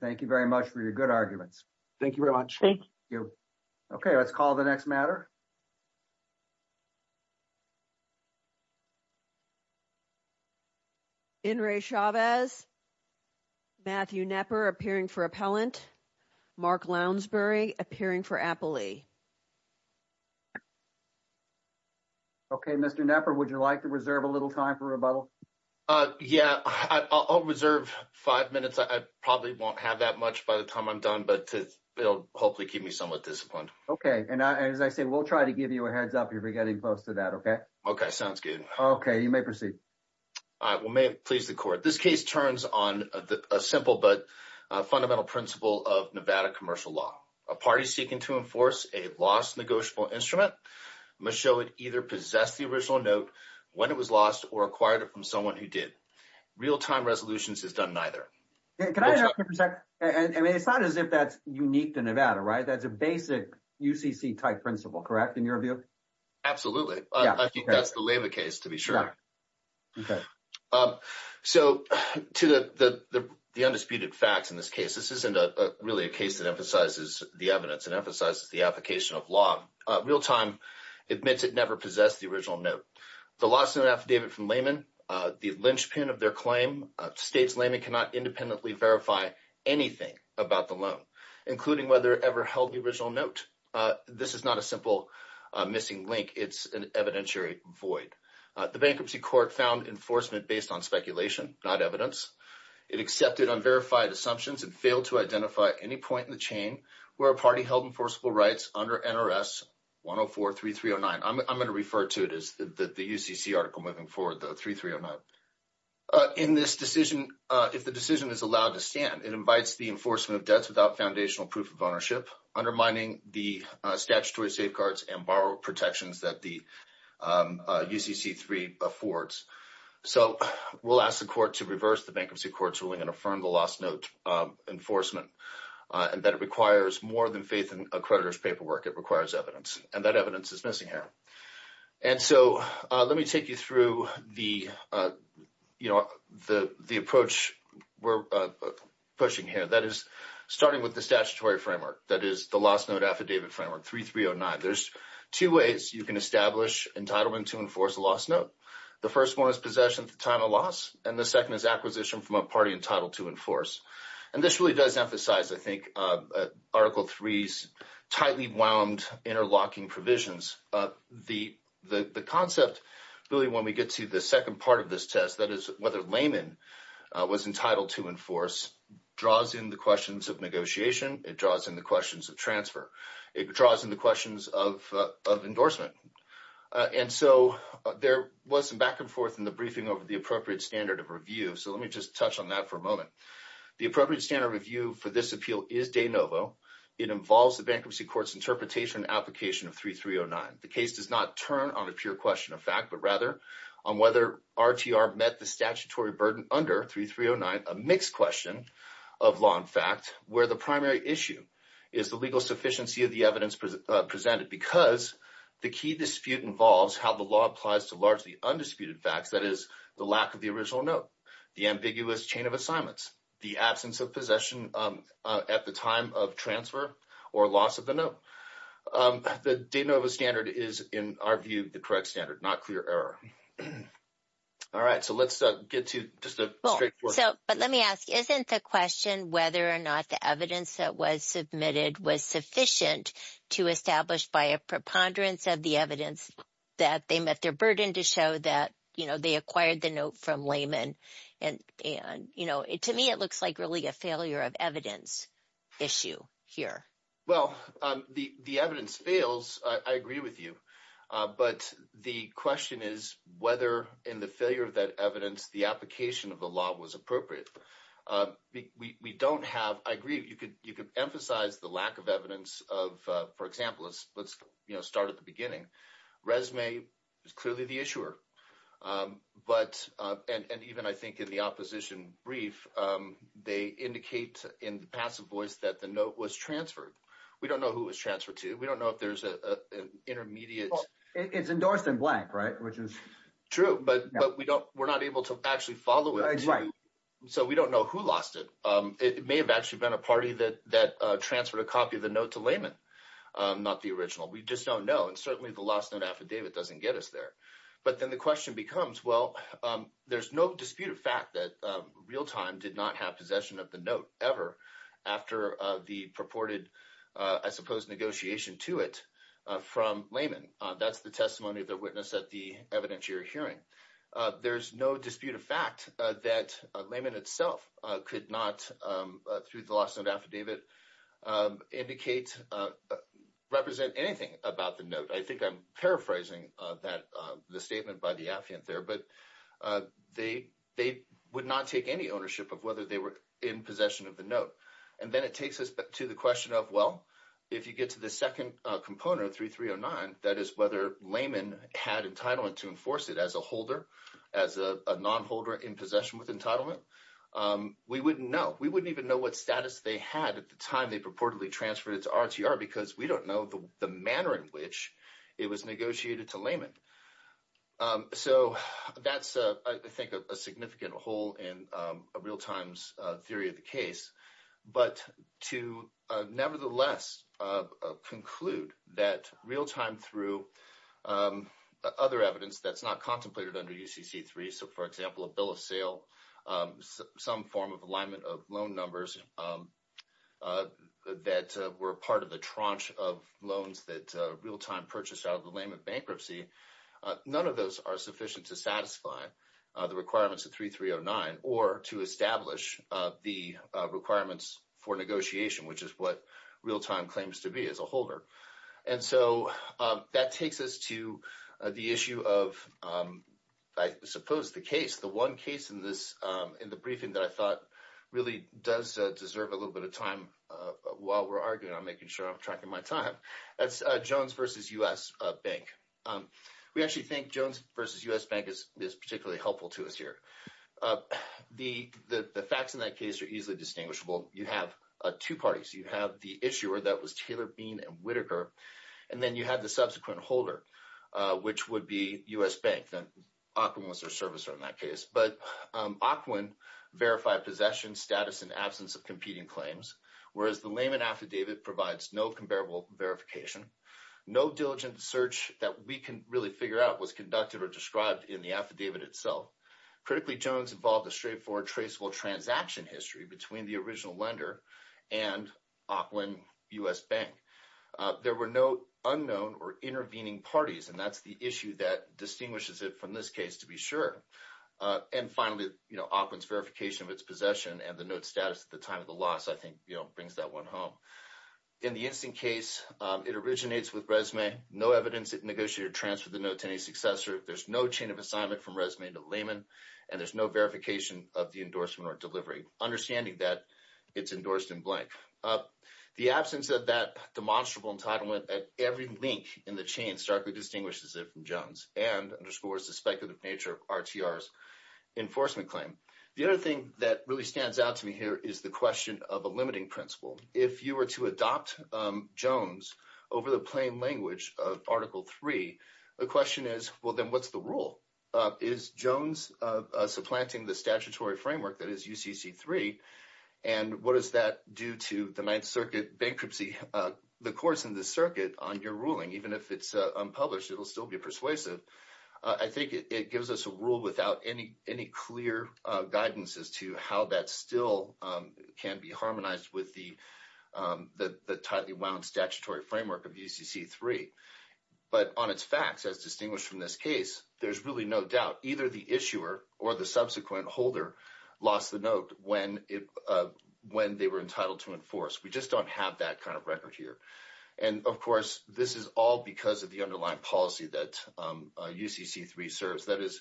Thank you very much for your good arguments. Thank you very much. Thank you. Okay. Let's call the next matter. In re Chavez, Matthew Nepper appearing for appellant. Mark Lounsbury appearing for Apple. Okay, Mr. Nepper, would you like to reserve a little time for rebuttal? Yeah, I'll reserve 5 minutes. I probably won't have that much by the time I'm done, but it'll hopefully keep me somewhat disciplined. Okay. And as I say, we'll try to give you a heads up. You'll be getting close to that. Okay. Okay. Sounds good. Okay. You may proceed. All right, well, may it please the court. This case turns on a simple but fundamental principle of Nevada commercial law. A party seeking to enforce a lost negotiable instrument must show it either possessed the original note when it was lost or acquired it from someone who did. Real-time resolutions has done neither. Can I interrupt you for a sec? I mean, it's not as if that's unique to Nevada, right? That's a basic UCC-type principle, correct, in your view? Absolutely. I think that's the Leiva case, to be sure. Okay. So, to the undisputed facts in this case, this isn't really a case that emphasizes the evidence. It emphasizes the application of law. Real-time admits it never possessed the original note. The lost note affidavit from Lehman, the linchpin of their claim states Lehman cannot independently verify anything about the loan, including whether it ever held the original note. This is not a simple missing link. It's an evidentiary void. The bankruptcy court found enforcement based on speculation, not evidence. It accepted unverified assumptions and failed to identify any point in the chain where a party held enforceable rights under NRS 104-3309. I'm going to refer to it as the UCC article moving forward, the 3309. In this decision, if the decision is allowed to stand, it invites the enforcement of debts without foundational proof of ownership, undermining the statutory safeguards and borrower protections that the UCC-3 affords. So, we'll ask the court to reverse the bankruptcy court's ruling and affirm the lost note enforcement, and that it requires more than faith in a creditor's paperwork. It requires evidence, and that evidence is missing here. And so, let me take you through the approach we're pushing here. That is, starting with the statutory framework, that is, the lost note affidavit framework, 3309. There's two ways you can establish entitlement to enforce a lost note. The first one is possession at the time of loss, and the second is acquisition from a party entitled to enforce. And this really does emphasize, I think, Article 3's tightly wound interlocking provisions. The concept, really, when we get to the second part of this test, that is, whether layman was entitled to enforce, draws in the questions of negotiation. It draws in the questions of transfer. It draws in the questions of endorsement. And so, there was some back and forth in the briefing over the appropriate standard of review, so let me just touch on that for a moment. The appropriate standard of review for this appeal is de novo. It involves the bankruptcy court's interpretation and application of 3309. The case does not turn on a pure question of fact, but rather on whether RTR met the statutory burden under 3309, a mixed question of law and fact, where the primary issue is the legal sufficiency of the evidence presented. Because the key dispute involves how the law applies to largely undisputed facts, that is, the lack of the original note, the ambiguous chain of assignments, the absence of possession at the time of transfer, or loss of the note. The de novo standard is, in our view, the correct standard, not clear error. All right, so let's get to just a strict question. But let me ask, isn't the question whether or not the evidence that was submitted was sufficient to establish by a preponderance of the evidence that they met their burden to show that they acquired the note from layman? And to me, it looks like really a failure of evidence issue here. Well, the evidence fails, I agree with you. But the question is whether in the failure of that evidence, the application of the law was appropriate. We don't have, I agree, you could emphasize the lack of evidence of, for example, let's start at the beginning. Resume is clearly the issuer. But, and even I think in the opposition brief, they indicate in the passive voice that the note was transferred. We don't know who it was transferred to. We don't know if there's an intermediate. It's endorsed in blank, right? Which is true, but we're not able to actually follow it. So we don't know who lost it. It may have actually been a party that transferred a copy of the note to layman, not the original. We just don't know. And certainly the lost note affidavit doesn't get us there. But then the question becomes, well, there's no dispute of fact that real time did not have possession of the note ever after the purported, I suppose, negotiation to it from layman. That's the testimony of the witness at the evidentiary hearing. There's no dispute of fact that layman itself could not, through the lost note affidavit, indicate, represent anything about the note. I think I'm paraphrasing the statement by the affiant there. But they would not take any ownership of whether they were in possession of the note. And then it takes us to the question of, well, if you get to the second component of 3309, that is whether layman had entitlement to enforce it as a holder, as a nonholder in possession with entitlement, we wouldn't know. We wouldn't even know what status they had at the time they purportedly transferred it to RTR because we don't know the manner in which it was negotiated to layman. So that's, I think, a significant hole in a real time's theory of the case. But to nevertheless conclude that real time through other evidence that's not contemplated under UCC3, so for example, a bill of sale, some form of alignment of loan numbers that were part of the tranche of loans that real time purchased out of the name of bankruptcy. None of those are sufficient to satisfy the requirements of 3309 or to establish the requirements for negotiation, which is what real time claims to be as a holder. And so that takes us to the issue of, I suppose, the case, the one case in this in the briefing that I thought really does deserve a little bit of time. While we're arguing, I'm making sure I'm tracking my time. That's Jones versus U.S. Bank. We actually think Jones versus U.S. Bank is particularly helpful to us here. The facts in that case are easily distinguishable. You have two parties. You have the issuer that was Taylor, Bean, and Whitaker, and then you have the subsequent holder, which would be U.S. Bank. Ocwin was their servicer in that case. But Ocwin verified possession, status, and absence of competing claims, whereas the Lehman affidavit provides no comparable verification, no diligent search that we can really figure out was conducted or described in the affidavit itself. Critically, Jones involved a straightforward, traceable transaction history between the original lender and Ocwin U.S. Bank. There were no unknown or intervening parties, and that's the issue that distinguishes it from this case, to be sure. And finally, Ocwin's verification of its possession and the note's status at the time of the loss, I think, brings that one home. In the instant case, it originates with resume, no evidence it negotiated a transfer of the note to any successor. There's no chain of assignment from resume to Lehman, and there's no verification of the endorsement or delivery, understanding that it's endorsed in blank. The absence of that demonstrable entitlement at every link in the chain starkly distinguishes it from Jones and underscores the speculative nature of RTR's enforcement claim. The other thing that really stands out to me here is the question of a limiting principle. If you were to adopt Jones over the plain language of Article 3, the question is, well, then what's the rule? Is Jones supplanting the statutory framework that is UCC 3? And what does that do to the Ninth Circuit bankruptcy? The courts in the circuit on your ruling, even if it's unpublished, it'll still be persuasive. I think it gives us a rule without any any clear guidance as to how that still can be harmonized with the tightly wound statutory framework of UCC 3. But on its facts, as distinguished from this case, there's really no doubt either the issuer or the subsequent holder lost the note when they were entitled to enforce. We just don't have that kind of record here. And of course, this is all because of the underlying policy that UCC 3 serves, that is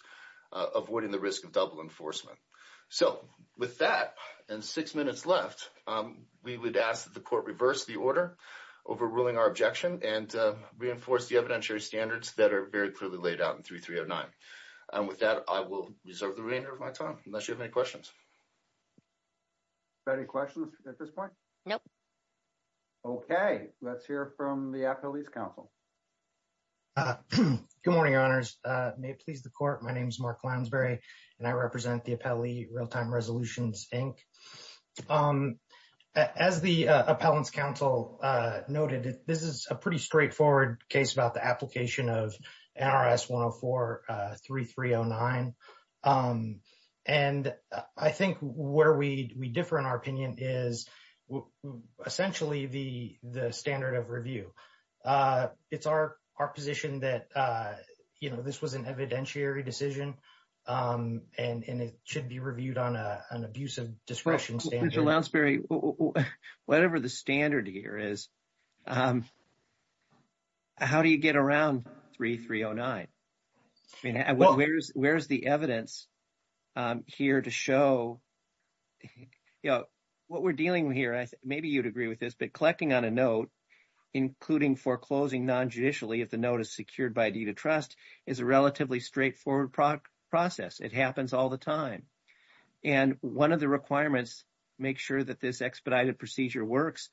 avoiding the risk of double enforcement. So with that and six minutes left, we would ask that the court reverse the order overruling our objection and reinforce the evidentiary standards that are very clearly laid out in 3309. And with that, I will reserve the remainder of my time unless you have any questions. Any questions at this point? No. Okay, let's hear from the Appellate's counsel. Good morning, honors. May it please the court. My name is Mark Lounsbury, and I represent the Appellee Real-Time Resolutions, Inc. As the Appellate's counsel noted, this is a pretty straightforward case about the application of NRS 104-3309. And I think where we differ in our opinion is essentially the standard of review. It's our position that, you know, this was an evidentiary decision, and it should be reviewed on an abusive discretion standard. Mr. Lounsbury, whatever the standard here is, how do you get around 3309? I mean, where's the evidence here to show, you know, what we're dealing with here, maybe you'd agree with this, but collecting on a note, including foreclosing non-judicially if the note is secured by a deed of trust, is a relatively straightforward process. It happens all the time. And one of the requirements to make sure that this expedited procedure works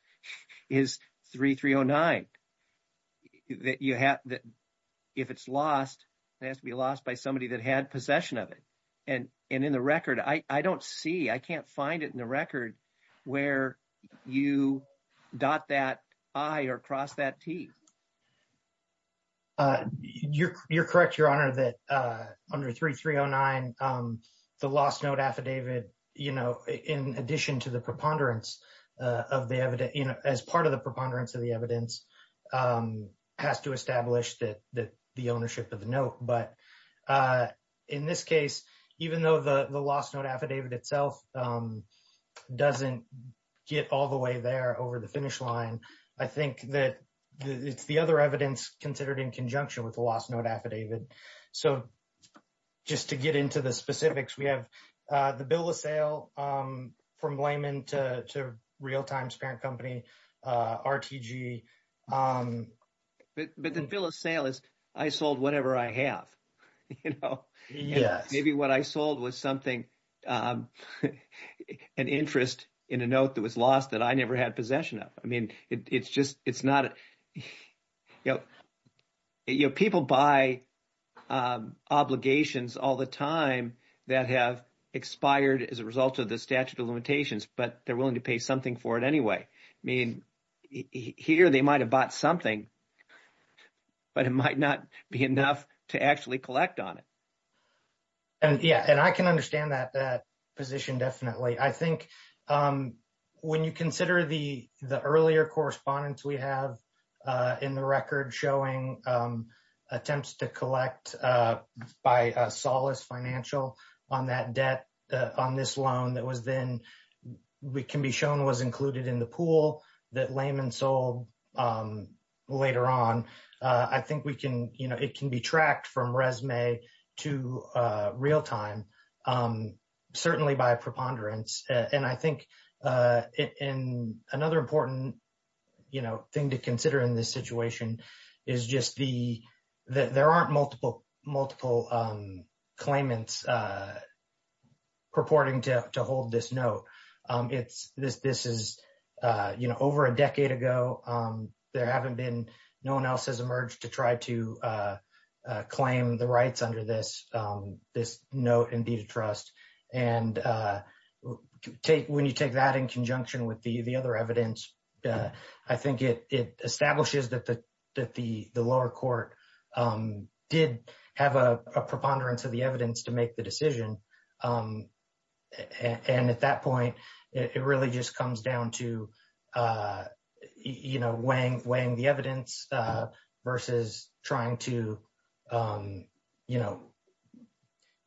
is 3309. If it's lost, it has to be lost by somebody that had possession of it. And in the record, I don't see, I can't find it in the record where you dot that I or cross that T. You're correct, Your Honor, that under 3309, the lost note affidavit, you know, in addition to the preponderance of the evidence, you know, as part of the preponderance of the evidence, has to establish that the ownership of the note. But in this case, even though the lost note affidavit itself doesn't get all the way there over the finish line, I think that it's the other evidence considered in conjunction with the lost note affidavit. So, just to get into the specifics, we have the bill of sale from Lehman to Realtime's parent company, RTG. But the bill of sale is, I sold whatever I have, you know. Yes. Maybe what I sold was something, an interest in a note that was lost that I never had possession of. I mean, it's just, it's not, you know, people buy obligations all the time that have expired as a result of the statute of limitations. But they're willing to pay something for it anyway. I mean, here they might have bought something, but it might not be enough to actually collect on it. And yeah, and I can understand that position definitely. I think when you consider the earlier correspondence we have in the record showing attempts to collect by Solace Financial on that debt, on this loan that was then, we can be shown was included in the pool that Lehman sold later on. I think we can, you know, it can be tracked from resume to Realtime, certainly by preponderance. And I think in another important, you know, thing to consider in this situation is just the, there aren't multiple claimants purporting to hold this note. It's, this is, you know, over a decade ago, there haven't been, no one else has emerged to try to claim the rights under this note and deed of trust. And when you take that in conjunction with the other evidence, I think it establishes that the lower court did have a preponderance of the evidence to make the decision. And at that point, it really just comes down to, you know, weighing the evidence versus trying to, you know,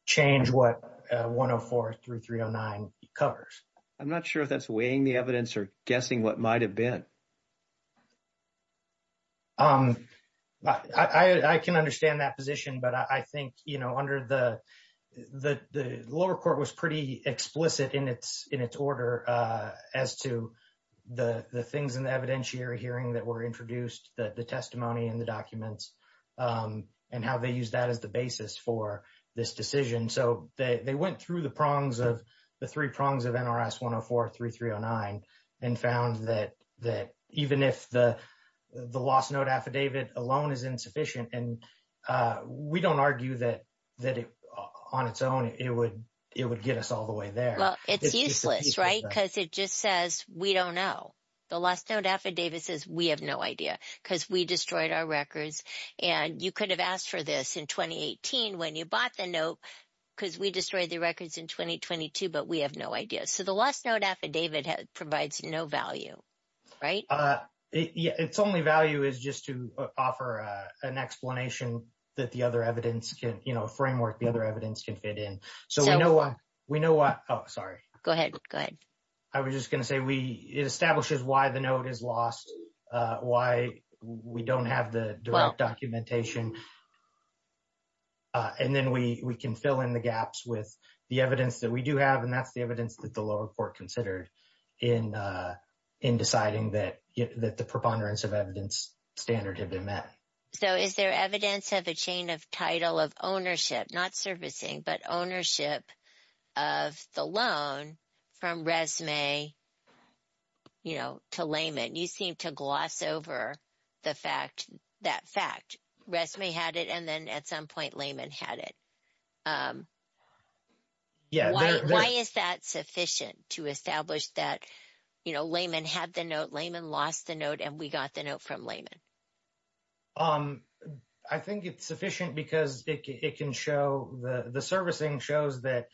change what 104 through 309 covers. I'm not sure if that's weighing the evidence or guessing what might have been. I can understand that position, but I think, you know, under the, the lower court was pretty explicit in its order as to the things in the evidentiary hearing that were introduced, the testimony and the documents, and how they use that as the basis for this decision. So, they went through the prongs of, the three prongs of NRS 104 through 309 and found that even if the lost note affidavit alone is insufficient, and we don't argue that on its own, it would get us all the way there. Well, it's useless, right? Because it just says, we don't know. The lost note affidavit says, we have no idea, because we destroyed our records. And you could have asked for this in 2018 when you bought the note, because we destroyed the records in 2022, but we have no idea. So, the lost note affidavit provides no value, right? Its only value is just to offer an explanation that the other evidence can, you know, framework the other evidence can fit in. So, we know why, we know why. Oh, sorry. Go ahead, go ahead. I was just going to say, we, it establishes why the note is lost, why we don't have the direct documentation. And then we can fill in the gaps with the evidence that we do have, and that's the lower court considered in deciding that the preponderance of evidence standard had been met. So, is there evidence of a chain of title of ownership, not servicing, but ownership of the loan from Resmay, you know, to Layman? You seem to gloss over the fact, that fact. Resmay had it, and then at some point, Layman had it. Yeah. Why is that sufficient to establish that, you know, Layman had the note, Layman lost the note, and we got the note from Layman? I think it's sufficient because it can show, the servicing shows that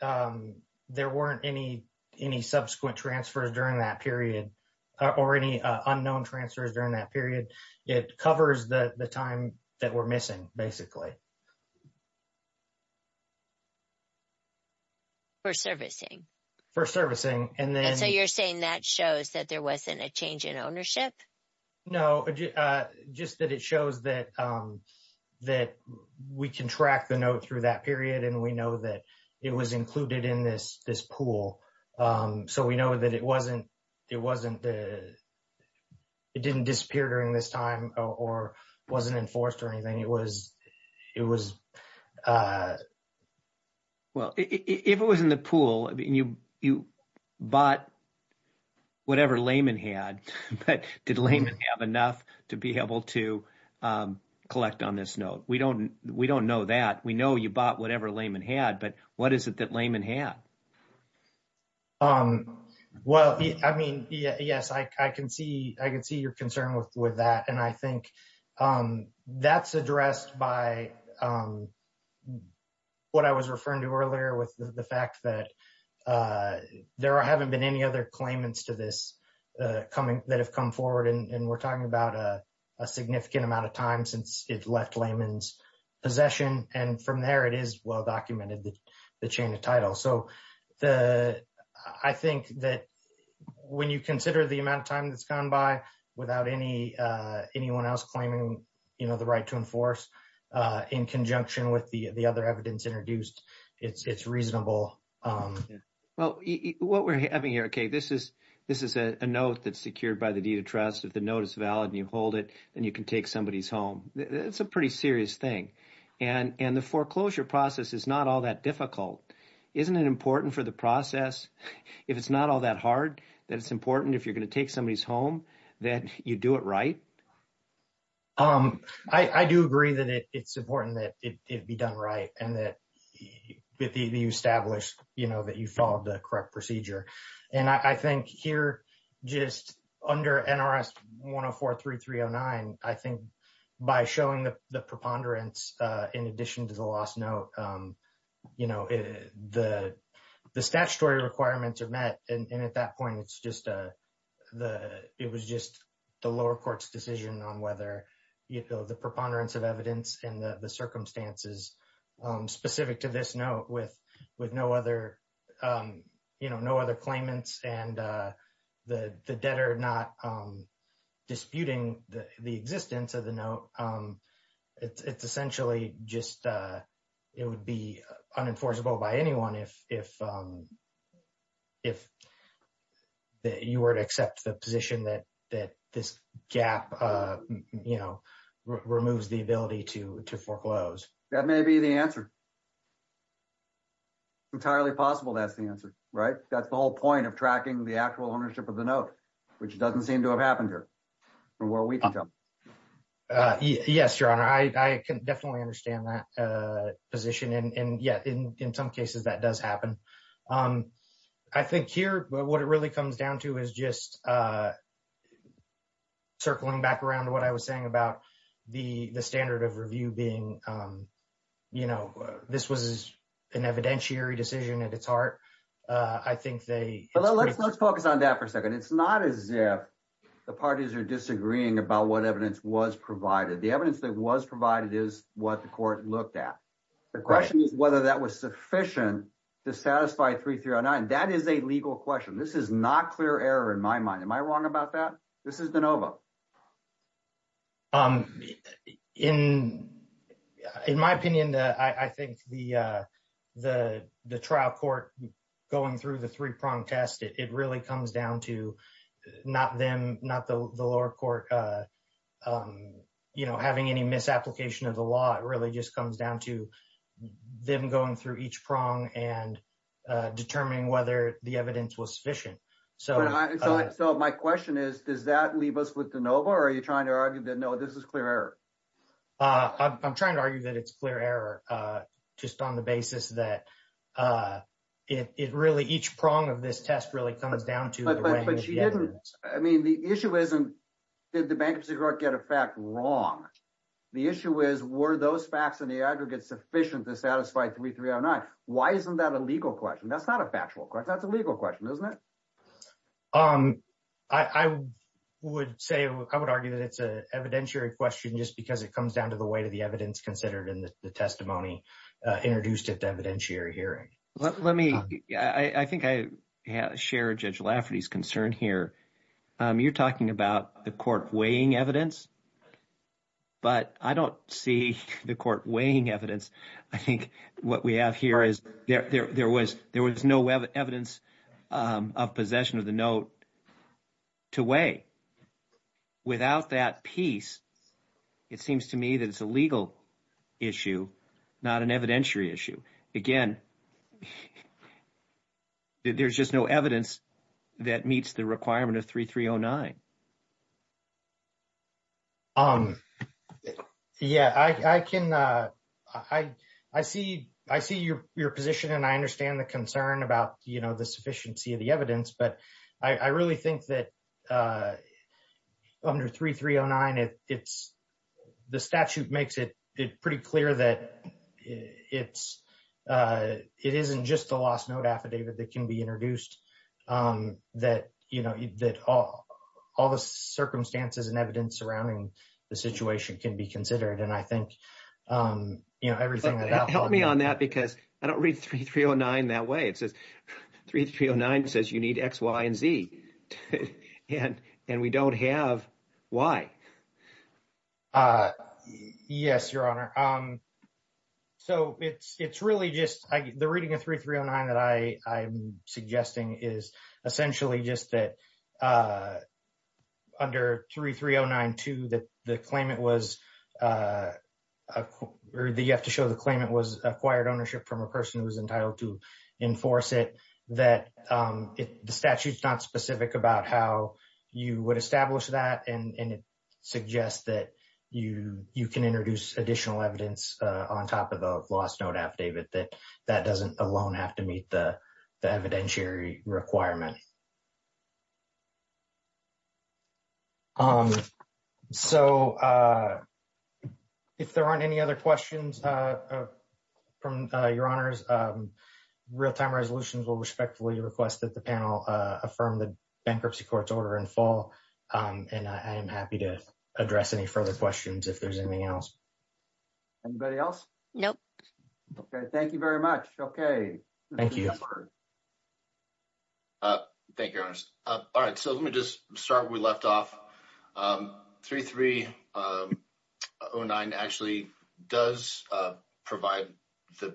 there weren't any subsequent transfers during that period, or any unknown transfers during that period. It covers the time that we're missing, basically. For servicing. For servicing, and then. So, you're saying that shows that there wasn't a change in ownership? No, just that it shows that we can track the note through that period, and we know that it was included in this pool. So, we know that it wasn't, it wasn't, it didn't disappear during this time, or wasn't enforced or anything. It was, it was. Well, if it was in the pool, you bought whatever Layman had, but did Layman have enough to be able to collect on this note? We don't know that. We know you bought whatever Layman had, but what is it that Layman had? Well, I mean, yes, I can see your concern with that, and I think that's addressed by what I was referring to earlier with the fact that there haven't been any other claimants to this coming, that have come forward, and we're talking about a significant amount of time since it left Layman's possession, and from there, it is well documented, the chain of title. So, the, I think that when you consider the amount of time that's gone by without any, anyone else claiming, you in conjunction with the other evidence introduced, it's reasonable. Well, what we're having here, okay, this is a note that's secured by the deed of trust. If the note is valid and you hold it, then you can take somebody's home. It's a pretty serious thing, and the foreclosure process is not all that difficult. Isn't it important for the process, if it's not all that hard, that it's important if you're going to take somebody's home, that you do it right? I do agree that it's important that it be done right, and that you establish that you followed the correct procedure. And I think here, just under NRS 104-309, I think by showing the preponderance in addition to the lost note, the statutory requirements are met, and at that point, it's just the, it was just the lower court's decision on whether, you know, the preponderance of evidence and the circumstances specific to this note with no other, you know, no other claimants and the debtor not disputing the existence of the note, it's essentially just, it would be unenforceable by anyone if you were to accept the position that this gap, you know, removes the ability to foreclose. That may be the answer. Entirely possible that's the answer, right? That's the whole point of tracking the actual ownership of the note, which doesn't seem to have happened here, from where we can tell. Yes, Your Honor. I can definitely understand that position. And yeah, in some cases, that does happen. I think here, what it really comes down to is just circling back around to what I was saying about the standard of review being, you know, this was an evidentiary decision at its heart. I think they... Let's focus on that for a second. It's not as if the parties are disagreeing about what evidence was provided. The evidence that was provided is what the court looked at. The question is whether that was sufficient to satisfy 3309. That is a legal question. This is not clear error in my mind. Am I wrong about that? This is DeNova. In my opinion, I think the trial court going through the three-prong test, it really comes down to not them, not the lower court, you know, having any misapplication of the law. It really just comes down to them going through each prong and determining whether the evidence was sufficient. So, my question is, does that leave us with DeNova, or are you trying to argue that, no, this is clear error? I'm trying to argue that it's clear error, just on the basis that it really, each prong of this test really comes down to... I mean, the issue isn't, did the bankruptcy court get a fact wrong? The issue is, were those facts and the aggregates sufficient to satisfy 3309? Why isn't that a legal question? That's not a legal question. I would say, I would argue that it's an evidentiary question just because it comes down to the weight of the evidence considered in the testimony introduced at the evidentiary hearing. Let me, I think I share Judge Lafferty's concern here. You're talking about the court weighing evidence, but I don't see the court weighing evidence. I think what we have here is there was no evidence of possession of the note to weigh. Without that piece, it seems to me that it's a legal issue, not an evidentiary issue. Again, there's just no evidence that meets the requirement of 3309. Yeah, I can... I see your position and I understand the concern about the sufficiency of the evidence, but I really think that under 3309, the statute makes it pretty clear that it isn't just the lost note affidavit that can be introduced, that all the circumstances and evidence surrounding the situation can be considered. And I think everything that I'll... Help me on that because I don't read 3309 that way. It says, 3309 says you need X, Y, and Z, and we don't have Y. Yes, Your Honor. So it's really just... The reading of 3309 that I'm suggesting is essentially just that under 3309-2 that the claimant was... Or you have to show the claimant was acquired ownership from a person who was entitled to enforce it, that the statute's not specific about how you would establish that. And it suggests that you can introduce additional evidence on top of the lost note affidavit that that doesn't alone have to meet the evidentiary requirement. So if there aren't any other questions from Your Honors, real-time resolutions will respectfully request that the panel affirm the bankruptcy court's order in full. And I am happy to address any further questions if there's anything else. Anybody else? Nope. Okay. Thank you very much. Okay. Thank you. Thank you, Your Honors. All right. So let me just start where we left off. 3309 actually does provide the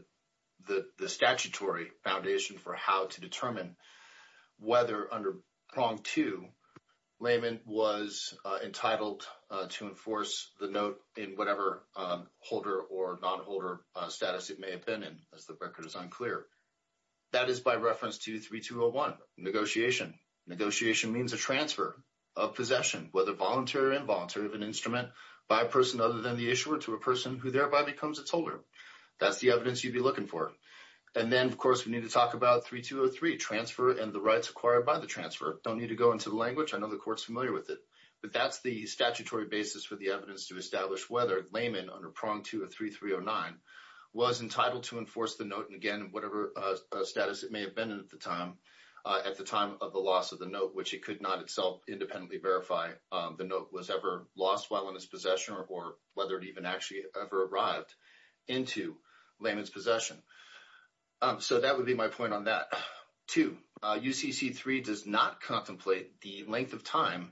statutory foundation for how to determine whether under prong 2, layman was entitled to enforce the note in whatever holder or non-holder status it may have been in, as the record is unclear. That is by reference to 3301, negotiation. Negotiation means a transfer of possession, whether voluntary or involuntary, of an instrument by a person other than the issuer to a person who thereby becomes its holder. That's the evidence you'd be looking for. And then, of course, we need to talk about 3203, transfer and the rights acquired by the transfer. Don't need to go into the language. I know the court's familiar with it. But that's the statutory basis for the evidence to establish whether layman under prong 2 of 3309 was entitled to enforce the note in, again, whatever status it may have been in at the time of the loss of the note, which it could not itself independently verify the note was ever lost while in its possession or whether it even actually ever arrived into layman's possession. So that would be my point on that. Two, UCC 3 does not contemplate the length of time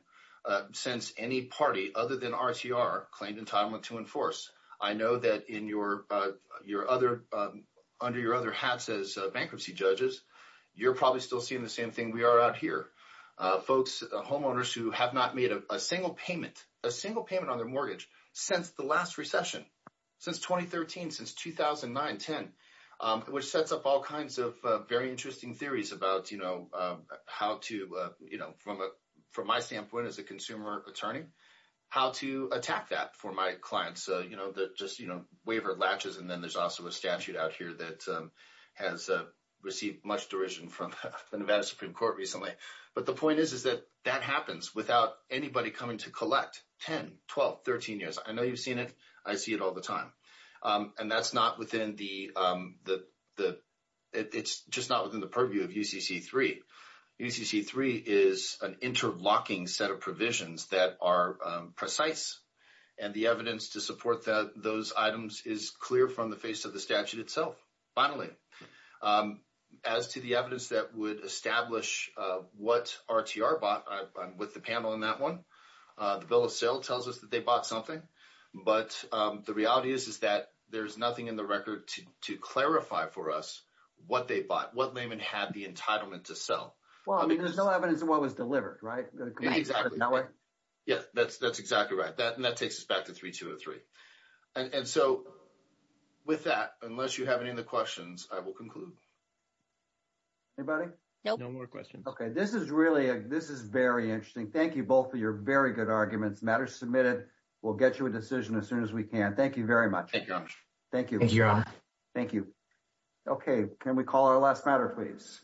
since any party other than RTR claimed entitlement to enforce. I know that in your other, under your other hats as bankruptcy judges, you're probably still seeing the same thing we are out here. Folks, homeowners who have not made a single payment, a single payment on their mortgage since the last recession, since 2013, since 2009-10, which sets up all kinds of very interesting theories about, you know, how to, you know, from a from my standpoint as a consumer attorney, how to attack that for my clients, you know, that just, you know, waiver latches. And then there's also a statute out here that has received much derision from the Nevada Supreme Court recently. But the point is, is that that happens without anybody coming to collect 10, 12, 13 years. I know you've seen it. I see it all the time. And that's not within the, it's just not within the purview of UCC 3. UCC 3 is an interlocking set of provisions that are precise and the evidence to support that those items is clear from the face of the statute itself. Finally, as to the evidence that would establish what RTR bought, I'm with the panel on that one. The bill of sale tells us that they bought something. But the reality is, is that there's nothing in the record to clarify for us what they bought, what layman had the entitlement to sell. Well, I mean, there's no evidence of what was delivered, right? Exactly. Yeah, that's exactly right. And that takes us back to 3203. And so with that, unless you have any other questions, I will conclude. Anybody? No more questions. Okay. This is really, this is very interesting. Thank you both for your very good arguments. Matter submitted. We'll get you a decision as soon as we can. Thank you very much. Thank you. Thank you. Thank you. Okay. Can we call our last matter, please?